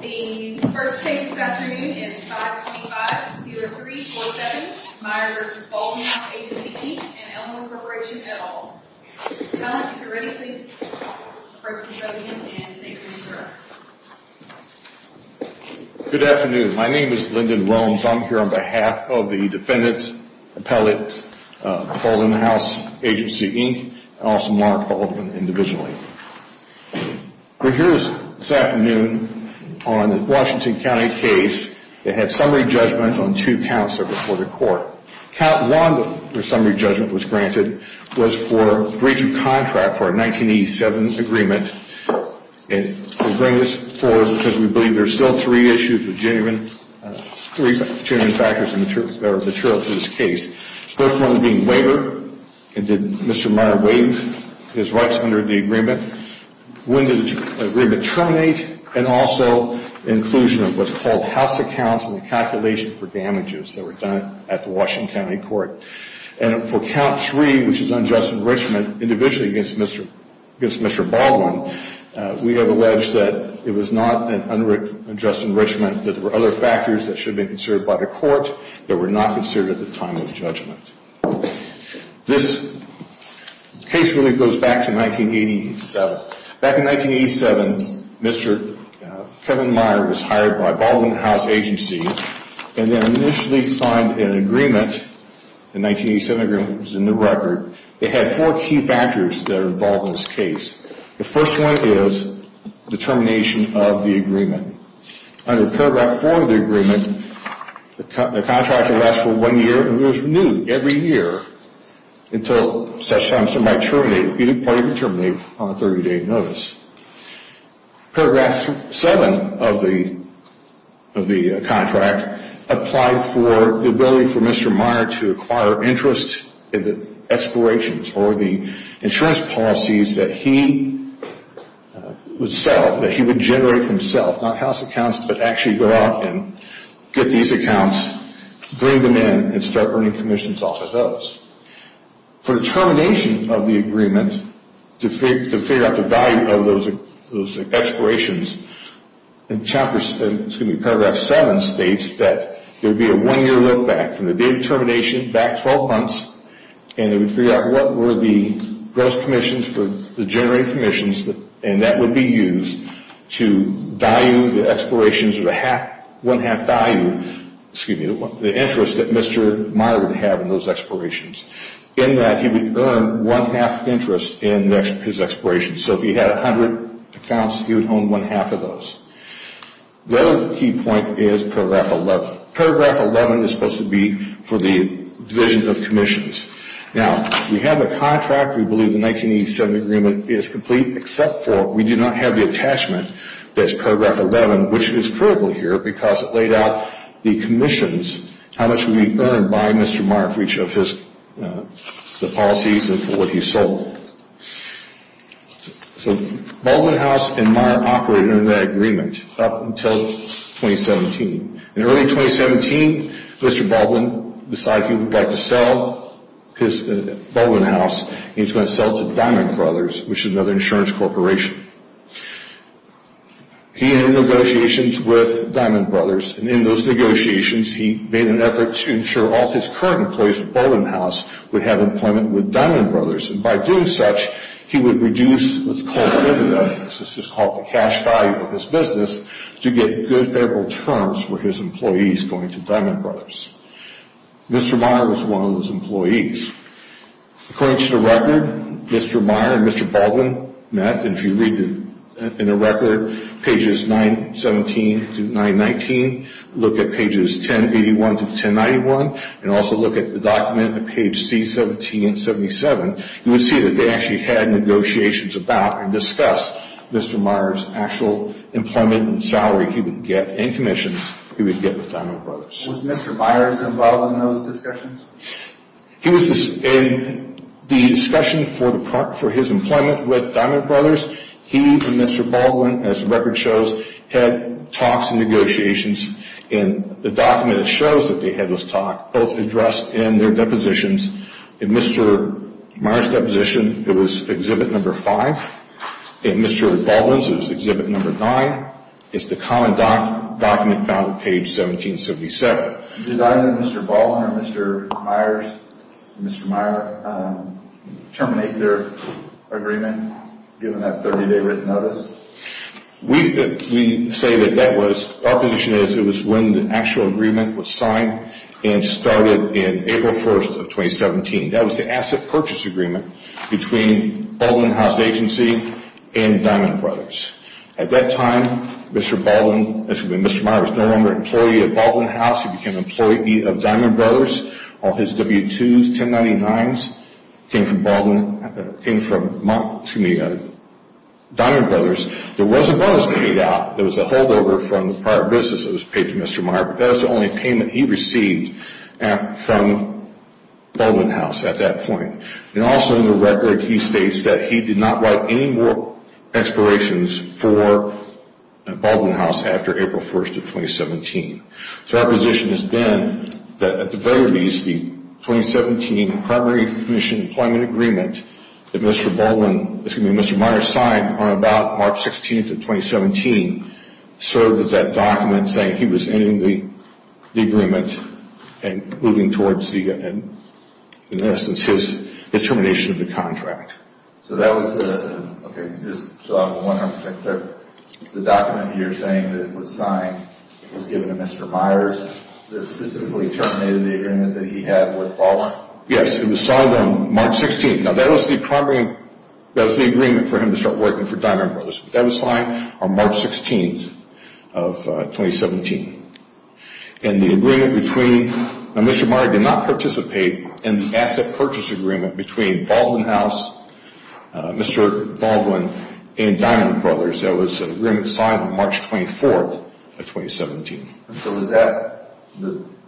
The first case this afternoon is 525-303-47, Myers-Baldwin House Agency, Inc. and Elmwood Corporation, et al. If you're ready, please approach the podium and say your name, sir. Good afternoon. My name is Lyndon Rones. I'm here on behalf of the defendants, appellate, Baldwin House Agency, Inc., and also Mark Baldwin, individually. We're here this afternoon on a Washington County case that had summary judgment on two counts that were before the court. Count 1, where summary judgment was granted, was for breach of contract for a 1987 agreement. And we bring this forward because we believe there's still three issues, three genuine factors that are material to this case. First one being waiver, and did Mr. Meyers waive his rights under the agreement? When did the agreement terminate? And also inclusion of what's called house accounts and the calculation for damages that were done at the Washington County Court. And for count 3, which is unjust enrichment, individually against Mr. Baldwin, we have alleged that it was not an unjust enrichment, that there were other factors that should have been considered by the court that were not considered at the time of judgment. This case really goes back to 1987. Back in 1987, Mr. Kevin Meyer was hired by Baldwin House Agency and then initially signed an agreement, a 1987 agreement that was in the record. It had four key factors that are involved in this case. The first one is determination of the agreement. Under paragraph 4 of the agreement, the contract would last for one year, and it was renewed every year until such time as it might terminate. Either party could terminate on a 30-day notice. Paragraph 7 of the contract applied for the ability for Mr. Meyer to acquire interest in the expirations or the insurance policies that he would sell, that he would generate himself, not house accounts, but actually go out and get these accounts, bring them in, and start earning commissions off of those. For the termination of the agreement, to figure out the value of those expirations, paragraph 7 states that there would be a one-year look back from the date of termination, back 12 months, and it would figure out what were the gross commissions for the generated commissions, and that would be used to value the expirations with one-half value, excuse me, the interest that Mr. Meyer would have in those expirations, in that he would earn one-half interest in his expirations. So if he had 100 accounts, he would own one-half of those. The other key point is paragraph 11. Paragraph 11 is supposed to be for the division of commissions. Now, we have a contract. We believe the 1987 agreement is complete, except for we do not have the attachment that's paragraph 11, which is critical here because it laid out the commissions, how much would be earned by Mr. Meyer for each of his policies and for what he sold. So Baldwin House and Meyer operated under that agreement up until 2017. In early 2017, Mr. Baldwin decided he would like to sell his Baldwin House, and he was going to sell it to Diamond Brothers, which is another insurance corporation. He had negotiations with Diamond Brothers, and in those negotiations, he made an effort to ensure all of his current employees at Baldwin House would have employment with Diamond Brothers, and by doing such, he would reduce what's called the dividend, this is called the cash value of his business, to get good, favorable terms for his employees going to Diamond Brothers. Mr. Meyer was one of those employees. According to the record, Mr. Meyer and Mr. Baldwin met, and if you read in the record pages 917 to 919, look at pages 1081 to 1091, and also look at the document at page C17 and 77, you would see that they actually had negotiations about and discussed Mr. Meyer's actual employment and salary he would get and commissions he would get with Diamond Brothers. Was Mr. Meyer involved in those discussions? He was in the discussion for his employment with Diamond Brothers. He and Mr. Baldwin, as the record shows, had talks and negotiations, and the document shows that they had those talks, both addressed in their depositions. In Mr. Meyer's deposition, it was Exhibit No. 5. In Mr. Baldwin's, it was Exhibit No. 9. It's the common document found at page 1777. Did either Mr. Baldwin or Mr. Meyer terminate their agreement, given that 30-day written notice? We say that that was... Our position is it was when the actual agreement was signed and started in April 1st of 2017. That was the asset purchase agreement between Baldwin House Agency and Diamond Brothers. At that time, Mr. Meyer was no longer an employee of Baldwin House. He became an employee of Diamond Brothers. All his W-2s, 1099s, came from Diamond Brothers. There was a bonus paid out. There was a holdover from the prior business that was paid to Mr. Meyer, but that was the only payment he received from Baldwin House at that point. Also in the record, he states that he did not write any more expirations for Baldwin House after April 1st of 2017. Our position has been that at the very least, the 2017 Primary Commission Employment Agreement that Mr. Meyer signed on about March 16th of 2017 served as that document saying he was ending the agreement and moving towards, in essence, his termination of the contract. So that was the... Okay, just so I'm 100% clear. The document you're saying that was signed was given to Mr. Meyer's that specifically terminated the agreement that he had with Baldwin House? Yes, it was signed on March 16th. Now, that was the primary... That was the agreement for him to start working for Diamond Brothers. That was signed on March 16th of 2017. And the agreement between... Mr. Meyer did not participate in the asset purchase agreement between Baldwin House, Mr. Baldwin, and Diamond Brothers. That was an agreement signed on March 24th of 2017. So was that...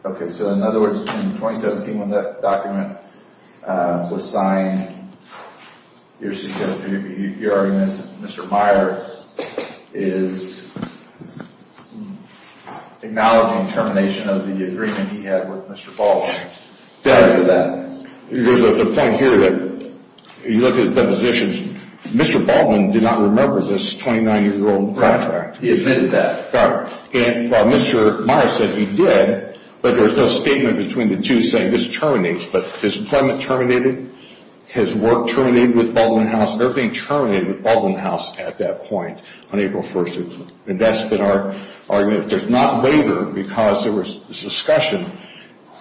Okay, so in other words, in 2017 when that document was signed, your argument is that Mr. Meyer is acknowledging termination of the agreement he had with Mr. Baldwin. There's a point here that you look at the positions. Mr. Baldwin did not remember this 29-year-old contract. He admitted that. And Mr. Meyer said he did, but there's no statement between the two saying this terminates. But his employment terminated, his work terminated with Baldwin House, everything terminated with Baldwin House at that point on April 1st. And that's been our argument. There's not waiver because there was this discussion.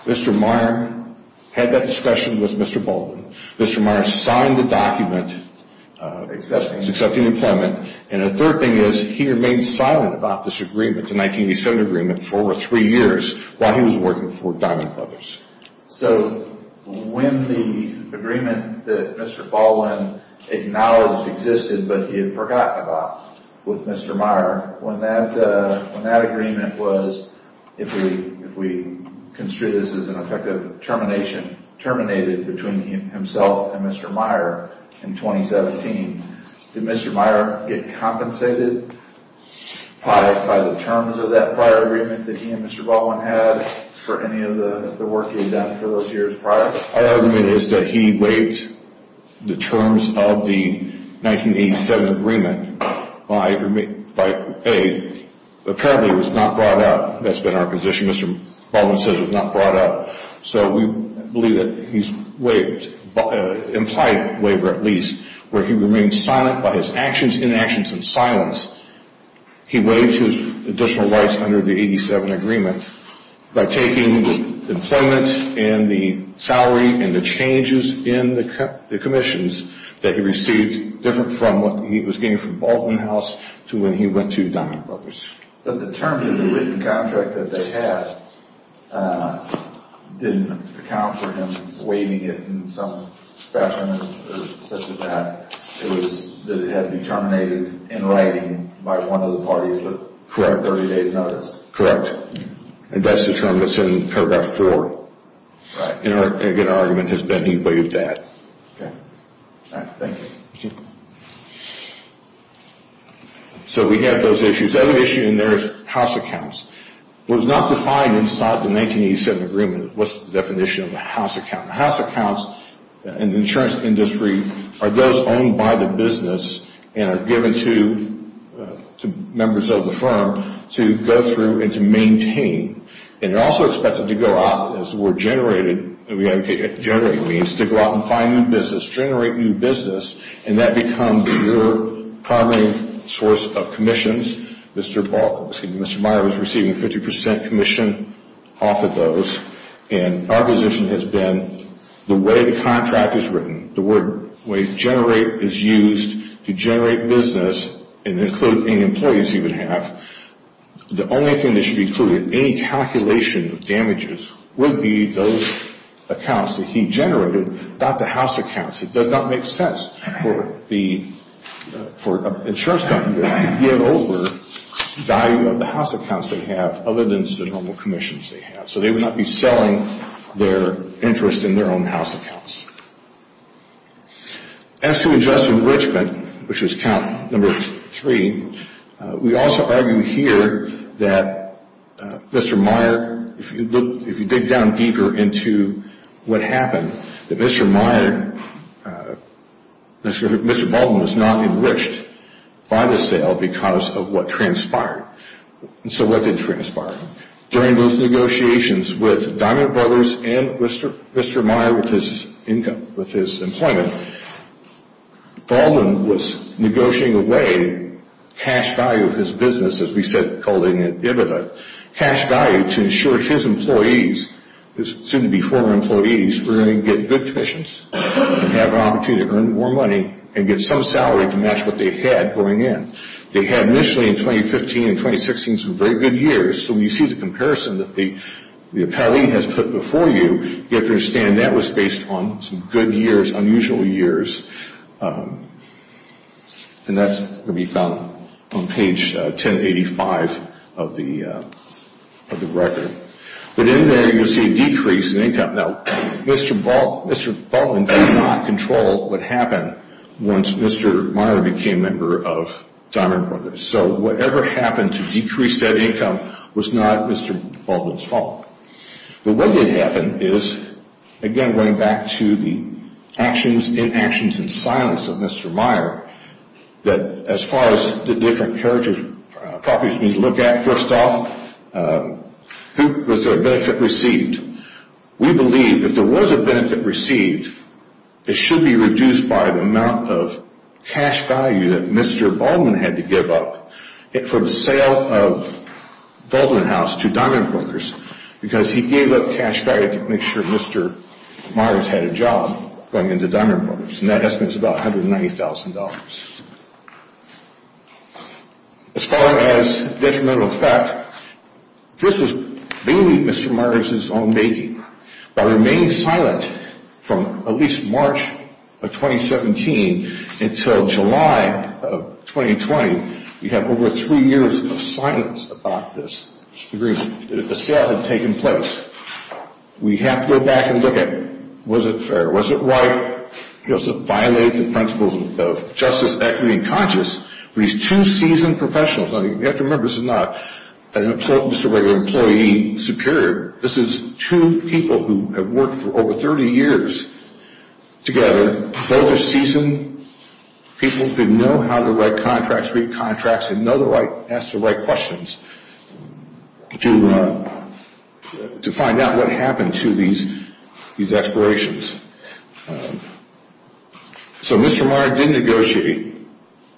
Mr. Meyer had that discussion with Mr. Baldwin. Mr. Meyer signed the document accepting employment. And the third thing is he remained silent about this agreement, the 1987 agreement, for over three years while he was working for Diamond Brothers. So when the agreement that Mr. Baldwin acknowledged existed but he had forgotten about with Mr. Meyer, when that agreement was, if we construe this as an effective termination, terminated between himself and Mr. Meyer in 2017, did Mr. Meyer get compensated by the terms of that prior agreement that he and Mr. Baldwin had for any of the work he had done for those years prior? Our argument is that he waived the terms of the 1987 agreement by, A, apparently it was not brought out. That's been our position. Mr. Baldwin says it was not brought out. So we believe that he's waived, implied waiver at least, where he remained silent by his actions, inactions, and silence. He waived his additional rights under the 1987 agreement by taking the employment and the salary and the changes in the commissions that he received, different from what he was getting from Baldwin House to when he went to Diamond Brothers. But the terms of the written contract that they had didn't account for him waiving it in some fashion or such like that. It was that it had been terminated in writing by one of the parties with 30 days' notice. And that's the term that's in Paragraph 4. Right. And again, our argument has been he waived that. Okay. All right. Thank you. So we have those issues. The other issue in there is house accounts. It was not defined inside the 1987 agreement was the definition of a house account. House accounts in the insurance industry are those owned by the business and are given to members of the firm to go through and to maintain. And they're also expected to go out, as the word generated means, to go out and find new business, generate new business, and that becomes your primary source of commissions. Mr. Meyer was receiving 50% commission off of those. And our position has been the way the contract is written, the way generate is used to generate business and include any employees he would have, the only thing that should be included in any calculation of damages would be those accounts that he generated, not the house accounts. It does not make sense for the insurance company to give over value of the house accounts they have other than the normal commissions they have. So they would not be selling their interest in their own house accounts. As to adjusted enrichment, which was count number three, we also argue here that Mr. Meyer, if you dig down deeper into what happened, that Mr. Meyer, Mr. Baldwin was not enriched by the sale because of what transpired. And so what did transpire? During those negotiations with Diamond Brothers and Mr. Meyer with his income, with his employment, Baldwin was negotiating away cash value of his business, as we said, called a dividend, cash value to ensure his employees, who seem to be former employees, were going to get good commissions and have an opportunity to earn more money and get some salary to match what they had going in. They had initially in 2015 and 2016 some very good years. So when you see the comparison that the appellee has put before you, you have to understand that was based on some good years, unusual years, and that's going to be found on page 1085 of the record. But in there, you'll see a decrease in income. Now, Mr. Baldwin did not control what happened once Mr. Meyer became a member of Diamond Brothers. So whatever happened to decrease that income was not Mr. Baldwin's fault. But what did happen is, again, going back to the actions, inactions, and silence of Mr. Meyer, that as far as the different character properties need to look at, first off, who was the benefit received? We believe if there was a benefit received, it should be reduced by the amount of cash value that Mr. Baldwin had to give up for the sale of Baldwin House to Diamond Brothers because he gave up cash value to make sure Mr. Myers had a job going into Diamond Brothers, and that estimates about $190,000. As far as detrimental effect, this was mainly Mr. Myers' own making. By remaining silent from at least March of 2017 until July of 2020, we have over three years of silence about this. The sale had taken place. We have to go back and look at, was it fair? Was it right? He also violated the principles of justice, equity, and conscience for these two seasoned professionals. You have to remember, this is not an employee superior. This is two people who have worked for over 30 years together. Both are seasoned people who know how to write contracts, read contracts, and know how to ask the right questions to find out what happened to these expirations. So Mr. Myers did negotiate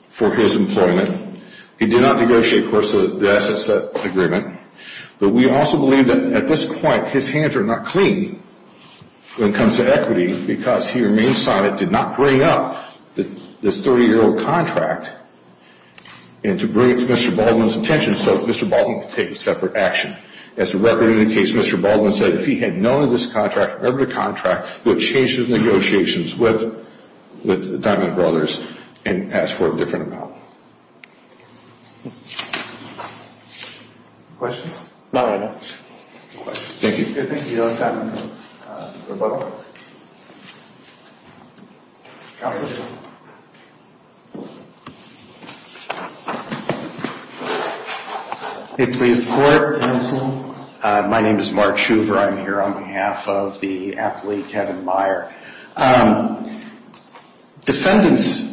for his employment. He did not negotiate for the asset set agreement, but we also believe that at this point his hands are not clean when it comes to equity because he remained silent, did not bring up this 30-year-old contract, and to bring it to Mr. Baldwin's attention so that Mr. Baldwin could take a separate action. As the record indicates, Mr. Baldwin said if he had known of this contract, remembered the contract, would have changed his negotiations with Diamond Brothers and asked for a different amount. Questions? No, no. Thank you. Thank you. We have time for a vote. Counsel? If we could support counsel. My name is Mark Shuver. I'm here on behalf of the athlete Kevin Meyer. Defendant's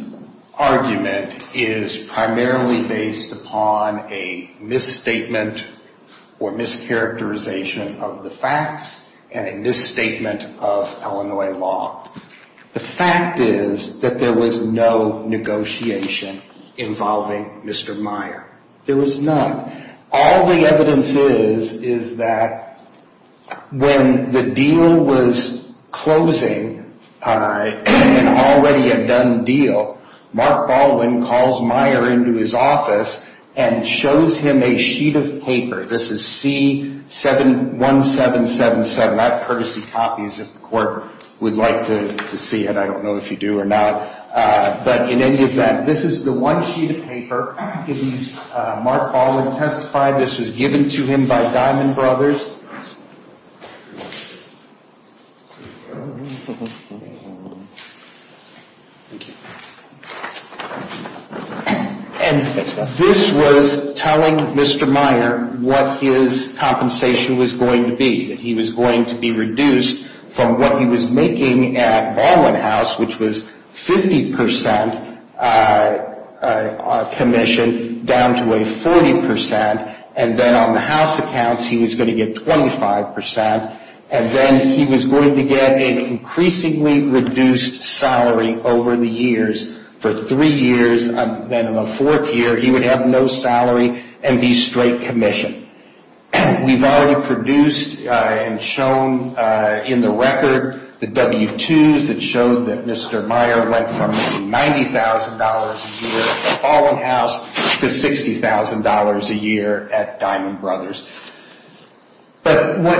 argument is primarily based upon a misstatement or mischaracterization of the facts and a misstatement of Illinois law. The fact is that there was no negotiation involving Mr. Meyer. There was none. All the evidence is is that when the deal was closing, an already undone deal, Mark Baldwin calls Meyer into his office and shows him a sheet of paper. This is C-1777. I have courtesy copies if the court would like to see it. I don't know if you do or not. But in any event, this is the one sheet of paper in which Mark Baldwin testified. This was given to him by Diamond Brothers. And this was telling Mr. Meyer what his compensation was going to be, that he was going to be reduced from what he was making at Baldwin House, which was 50% commission, down to a 40%. And then on the house accounts, he was going to get 25%. And then he was going to get an increasingly reduced salary over the years. For three years, and then in the fourth year, he would have no salary and be straight commission. We've already produced and shown in the record the W-2s that showed that Mr. Meyer went from $90,000 a year at Baldwin House to $60,000 a year at Diamond Brothers. But what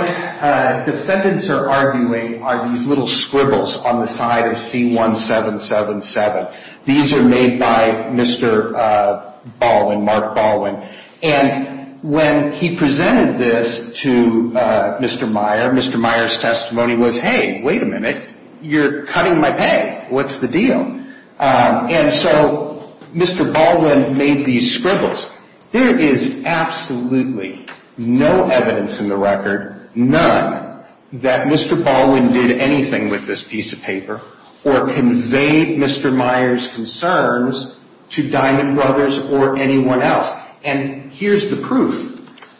defendants are arguing are these little scribbles on the side of C-1777. These are made by Mr. Baldwin, Mark Baldwin. And when he presented this to Mr. Meyer, Mr. Meyer's testimony was, hey, wait a minute, you're cutting my pay, what's the deal? And so Mr. Baldwin made these scribbles. There is absolutely no evidence in the record, none, that Mr. Baldwin did anything with this piece of paper or conveyed Mr. Meyer's concerns to Diamond Brothers or anyone else. And here's the proof.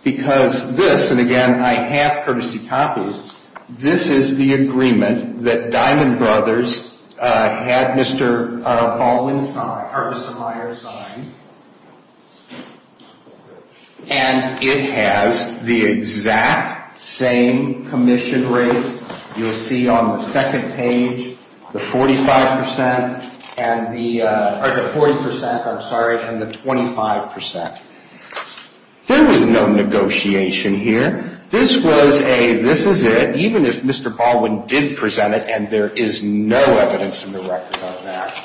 Because this, and again, I have courtesy copies, this is the agreement that Diamond Brothers had Mr. Baldwin sign, or Mr. Meyer sign. And it has the exact same commission rates you'll see on the second page, the 45% and the, or the 40%, I'm sorry, and the 25%. There was no negotiation here. This was a this is it, even if Mr. Baldwin did present it, and there is no evidence in the record of that.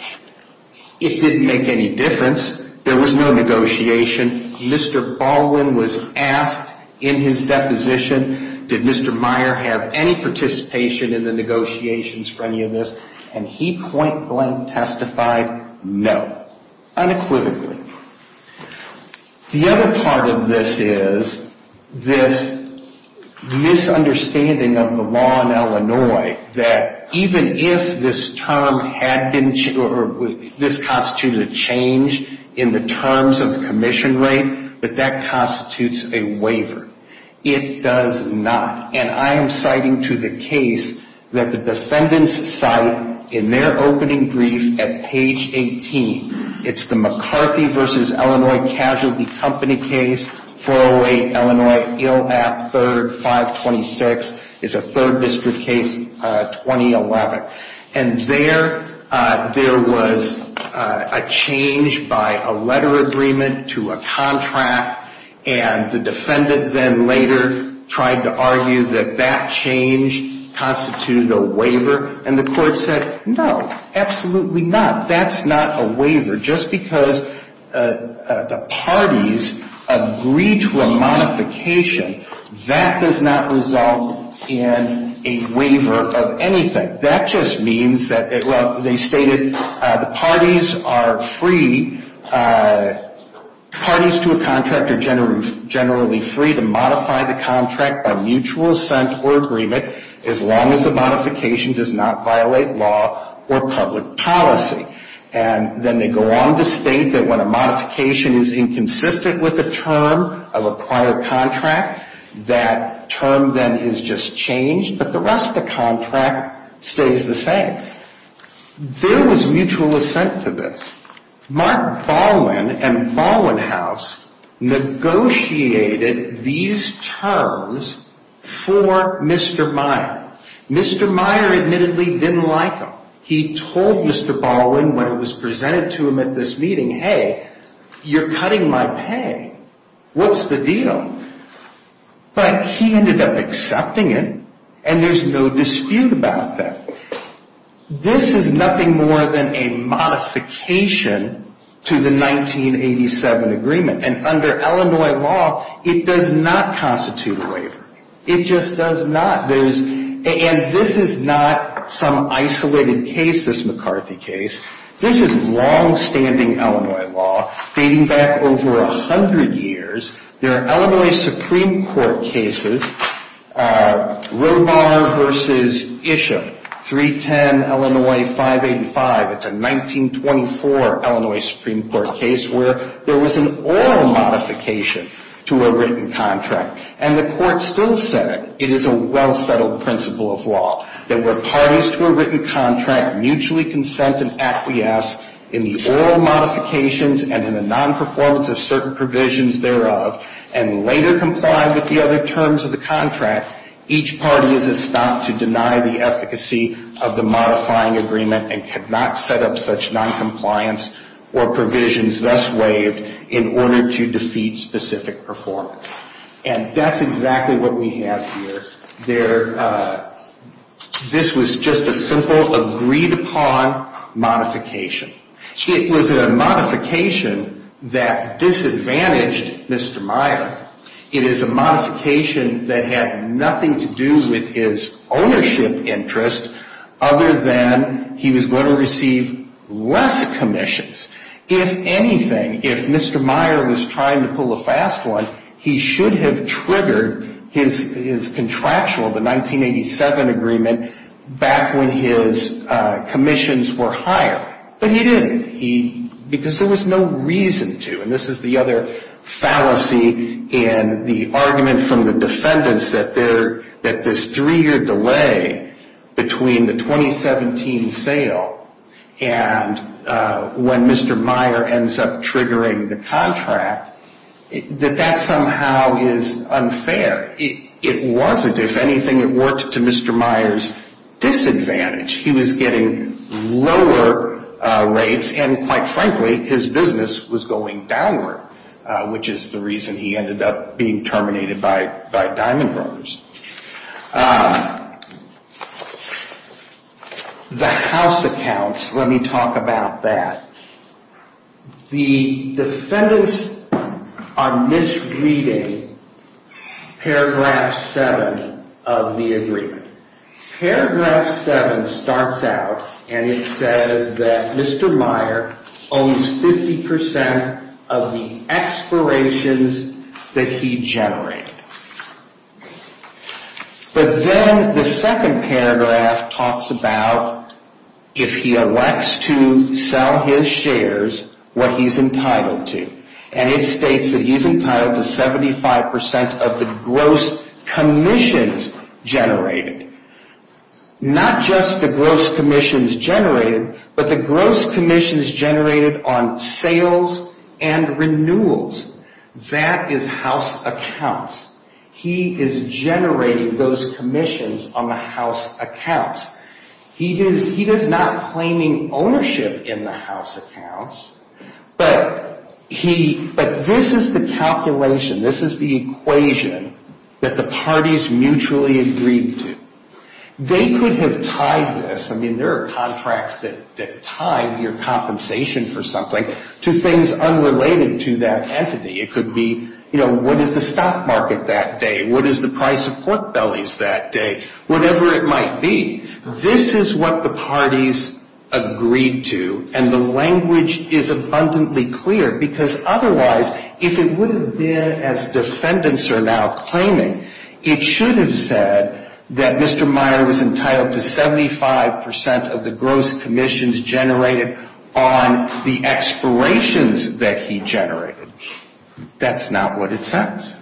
It didn't make any difference. There was no negotiation. Mr. Baldwin was asked in his deposition, did Mr. Meyer have any participation in the negotiations for any of this? And he point blank testified no, unequivocally. The other part of this is this misunderstanding of the law in Illinois that even if this term had been, or this constituted a change in the terms of the commission rate, that that constitutes a waiver. It does not. And I am citing to the case that the defendants cite in their opening brief at page 18. It's the McCarthy v. Illinois Casualty Company case, 408 Illinois, ILAP 3rd, 526. It's a third district case, 2011. And there, there was a change by a letter agreement to a contract, and the defendant then later tried to argue that that change constituted a waiver. And the court said, no, absolutely not. That's not a waiver. Just because the parties agreed to a modification, that does not result in a waiver of anything. That just means that, well, they stated the parties are free. Parties to a contract are generally free to modify the contract by mutual assent or agreement as long as the modification does not violate law or public policy. And then they go on to state that when a modification is inconsistent with a term of a prior contract, that term then is just changed, but the rest of the contract stays the same. There was mutual assent to this. Mark Baldwin and Baldwin House negotiated these terms for Mr. Meyer. Mr. Meyer admittedly didn't like them. He told Mr. Baldwin when it was presented to him at this meeting, hey, you're cutting my pay. What's the deal? But he ended up accepting it, and there's no dispute about that. This is nothing more than a modification to the 1987 agreement. And under Illinois law, it does not constitute a waiver. It just does not. And this is not some isolated case, this McCarthy case. This is longstanding Illinois law dating back over 100 years. There are Illinois Supreme Court cases, Robar v. Isham, 310 Illinois 585. It's a 1924 Illinois Supreme Court case where there was an oral modification to a written contract, and the court still said it is a well-settled principle of law, that where parties to a written contract mutually consent and acquiesce in the oral modifications and in the nonperformance of certain provisions thereof, and later comply with the other terms of the contract, each party is estopped to deny the efficacy of the modifying agreement and cannot set up such noncompliance or provisions thus waived in order to defeat specific performance. And that's exactly what we have here. This was just a simple agreed-upon modification. It was a modification that disadvantaged Mr. Meyer. It is a modification that had nothing to do with his ownership interest other than he was going to receive less commissions. If anything, if Mr. Meyer was trying to pull a fast one, he should have triggered his contractual, the 1987 agreement, back when his commissions were higher. But he didn't, because there was no reason to. And this is the other fallacy in the argument from the defendants that this three-year delay between the 2017 sale and when Mr. Meyer ends up triggering the contract, that that somehow is unfair. It wasn't. If anything, it worked to Mr. Meyer's disadvantage. He was getting lower rates, and quite frankly, his business was going downward, which is the reason he ended up being terminated by Diamond Brothers. The house accounts, let me talk about that. The defendants are misreading paragraph 7 of the agreement. Paragraph 7 starts out, and it says that Mr. Meyer owns 50% of the expirations that he generated. But then the second paragraph talks about if he elects to sell his shares, what he's entitled to. And it states that he's entitled to 75% of the gross commissions generated. Not just the gross commissions generated, but the gross commissions generated on sales and renewals. That is house accounts. He is generating those commissions on the house accounts. He is not claiming ownership in the house accounts, but this is the calculation. This is the equation that the parties mutually agreed to. They could have tied this. I mean, there are contracts that tie your compensation for something to things unrelated to that entity. It could be, you know, what is the stock market that day? What is the price of pork bellies that day? Whatever it might be, this is what the parties agreed to, and the language is abundantly clear. Because otherwise, if it would have been as defendants are now claiming, it should have said that Mr. Meyer was entitled to 75% of the gross commissions generated on the expirations that he generated. That's not what it says.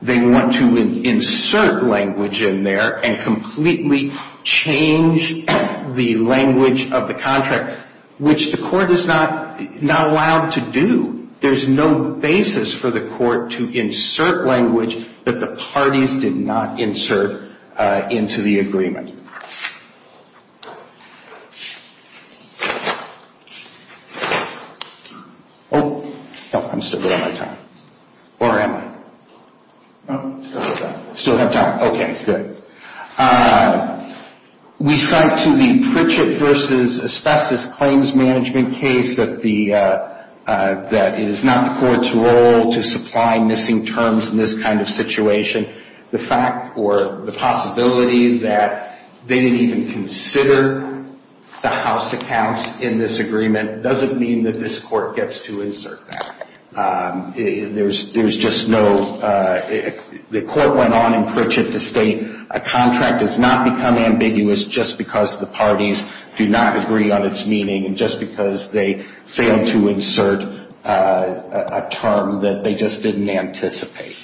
They want to insert language in there and completely change the language of the contract, which the court is not allowed to do. There's no basis for the court to insert language that the parties did not insert into the agreement. Oh, I'm still running out of time. Or am I? Still have time. Okay, good. We cite to the Pritchett v. Asbestos Claims Management case that it is not the court's role to supply missing terms in this kind of situation. The fact or the possibility that they didn't even consider the house accounts in this agreement doesn't mean that this court gets to insert that. There's just no – the court went on in Pritchett to state a contract does not become ambiguous just because the parties do not agree on its meaning and just because they failed to insert a term that they just didn't anticipate.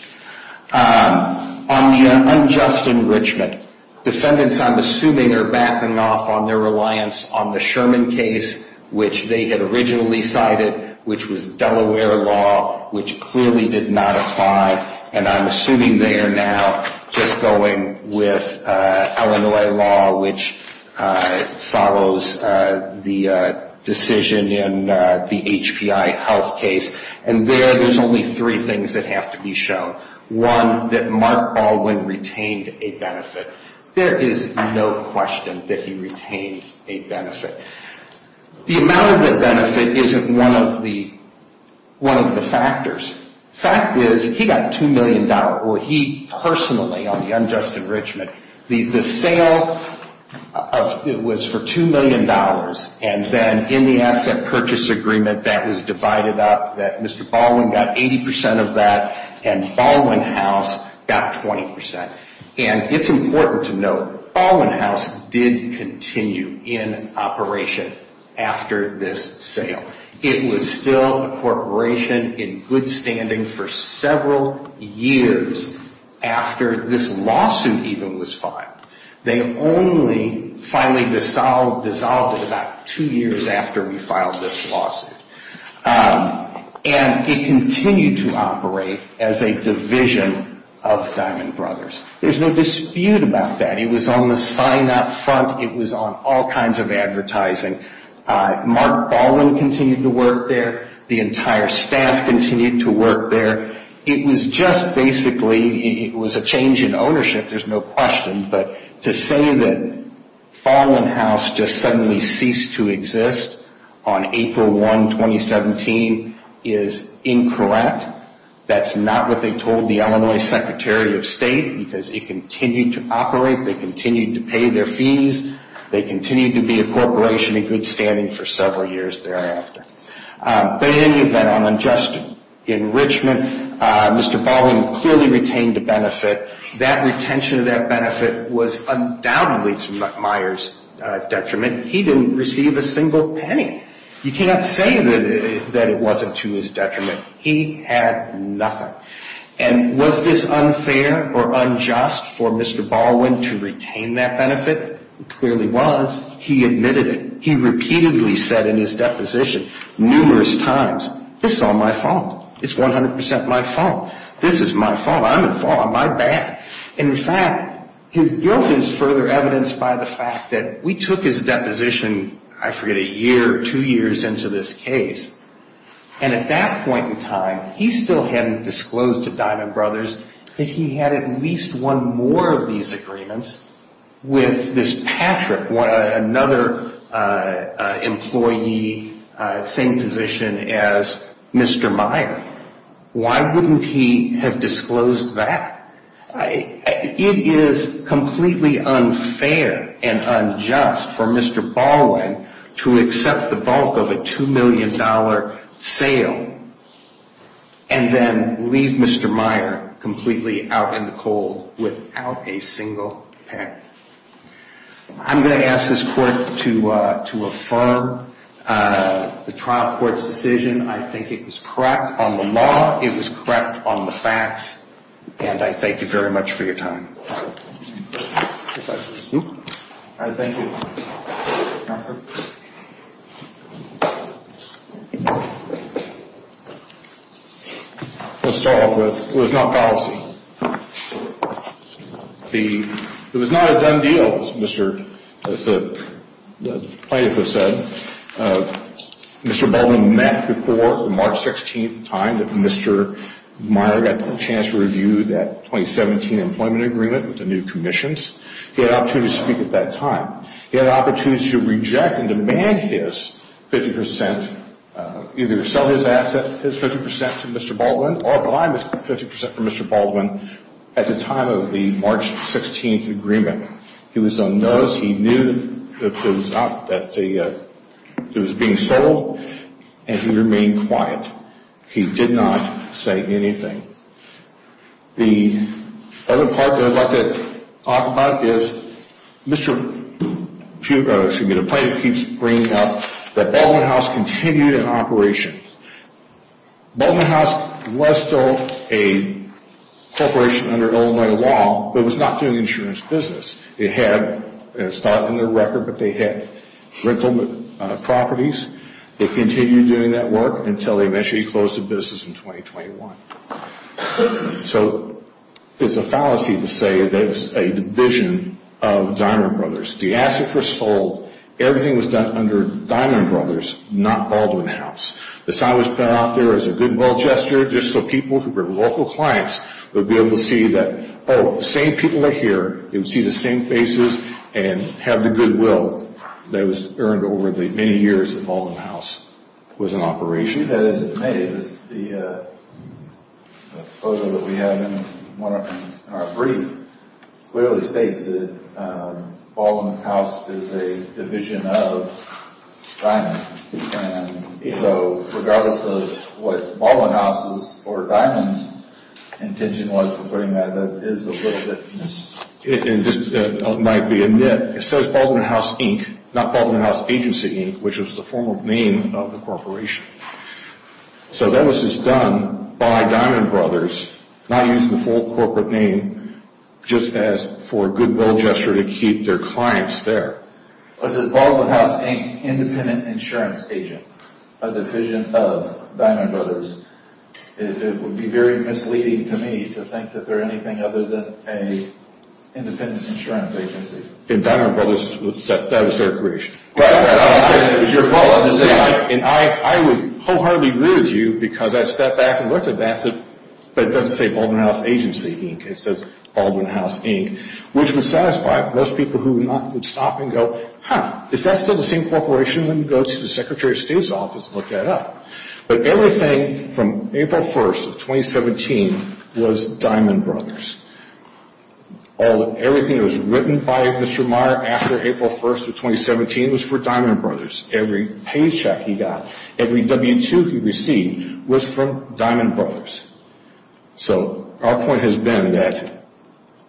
On the unjust enrichment, defendants, I'm assuming, are backing off on their reliance on the Sherman case, which they had originally cited, which was Delaware law, which clearly did not apply. And I'm assuming they are now just going with Illinois law, which follows the decision in the HPI health case. And there, there's only three things that have to be shown. One, that Mark Baldwin retained a benefit. There is no question that he retained a benefit. The amount of the benefit isn't one of the factors. The fact is he got $2 million, or he personally on the unjust enrichment, the sale of – it was for $2 million. And then in the asset purchase agreement that was divided up, that Mr. Baldwin got 80 percent of that and Baldwin House got 20 percent. And it's important to note Baldwin House did continue in operation after this sale. It was still a corporation in good standing for several years after this lawsuit even was filed. They only finally dissolved it about two years after we filed this lawsuit. And it continued to operate as a division of Diamond Brothers. There's no dispute about that. It was on the sign-up front. It was on all kinds of advertising. Mark Baldwin continued to work there. The entire staff continued to work there. It was just basically – it was a change in ownership, there's no question. But to say that Baldwin House just suddenly ceased to exist on April 1, 2017, is incorrect. That's not what they told the Illinois Secretary of State because it continued to operate. They continued to pay their fees. They continued to be a corporation in good standing for several years thereafter. But in any event, on unjust enrichment, Mr. Baldwin clearly retained a benefit. That retention of that benefit was undoubtedly to Myers' detriment. He didn't receive a single penny. You can't say that it wasn't to his detriment. He had nothing. And was this unfair or unjust for Mr. Baldwin to retain that benefit? It clearly was. He admitted it. He repeatedly said in his deposition, numerous times, this is all my fault. It's 100 percent my fault. This is my fault. I'm at fault. My bad. In fact, his guilt is further evidenced by the fact that we took his deposition, I forget, a year or two years into this case. And at that point in time, he still hadn't disclosed to Diamond Brothers that he had at least won more of these agreements with this Patrick, another employee, same position as Mr. Myers. Why wouldn't he have disclosed that? It is completely unfair and unjust for Mr. Baldwin to accept the bulk of a $2 million sale and then leave Mr. Myers completely out in the cold without a single penny. I'm going to ask this Court to affirm the trial court's decision. I think it was correct on the law. It was correct on the facts. And I thank you very much for your time. Thank you. Thank you, Counselor. Let's start off with it was not policy. It was not a done deal, as the plaintiff has said. Mr. Baldwin met before the March 16th time that Mr. Myers got the chance to review that 2017 employment agreement with the new commissions. He had an opportunity to speak at that time. He had an opportunity to reject and demand his 50 percent, either sell his asset, his 50 percent to Mr. Baldwin or buy 50 percent from Mr. Baldwin at the time of the March 16th agreement. He was unnoticed. He knew that it was being sold, and he remained quiet. He did not say anything. The other part that I'd like to talk about is the plaintiff keeps bringing up that Baldwin House continued in operation. Baldwin House was still a corporation under Illinois law but was not doing insurance business. It had, and it's not on their record, but they had rental properties. They continued doing that work until they eventually closed the business in 2021. So it's a fallacy to say that it's a division of Diamond Brothers. The asset was sold. Everything was done under Diamond Brothers, not Baldwin House. The sign was put out there as a goodwill gesture just so people who were local clients would be able to see that, oh, the same people are here. They would see the same faces and have the goodwill that was earned over the many years that Baldwin House was in operation. The photo that we have in our brief clearly states that Baldwin House is a division of Diamond. So regardless of what Baldwin House's or Diamond's intention was for putting that, that is a little bit. It might be a myth. It says Baldwin House Inc., not Baldwin House Agency Inc., which was the formal name of the corporation. So that was just done by Diamond Brothers, not using the full corporate name just as for a goodwill gesture to keep their clients there. Was it Baldwin House Inc., Independent Insurance Agent, a division of Diamond Brothers? It would be very misleading to me to think that they're anything other than an independent insurance agency. And Diamond Brothers, that was their creation. Right. It was your fault. And I would wholeheartedly agree with you because I stepped back and looked at that and said, but it doesn't say Baldwin House Agency Inc. It says Baldwin House Inc., which was satisfied. In fact, most people who would stop and go, huh, is that still the same corporation? Let me go to the Secretary of State's office and look that up. But everything from April 1st of 2017 was Diamond Brothers. Everything that was written by Mr. Meyer after April 1st of 2017 was for Diamond Brothers. Every paycheck he got, every W-2 he received was from Diamond Brothers. So our point has been that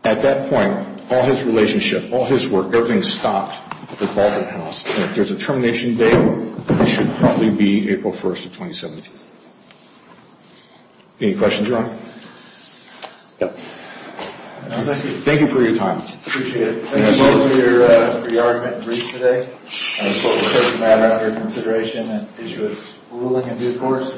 at that point, all his relationship, all his work, everything stopped at Baldwin House. And if there's a termination date, it should probably be April 1st of 2017. Any questions, Your Honor? Thank you for your time. Appreciate it. Thank you both for your argument and brief today. I suppose it was a matter of your consideration that this was ruling in due course.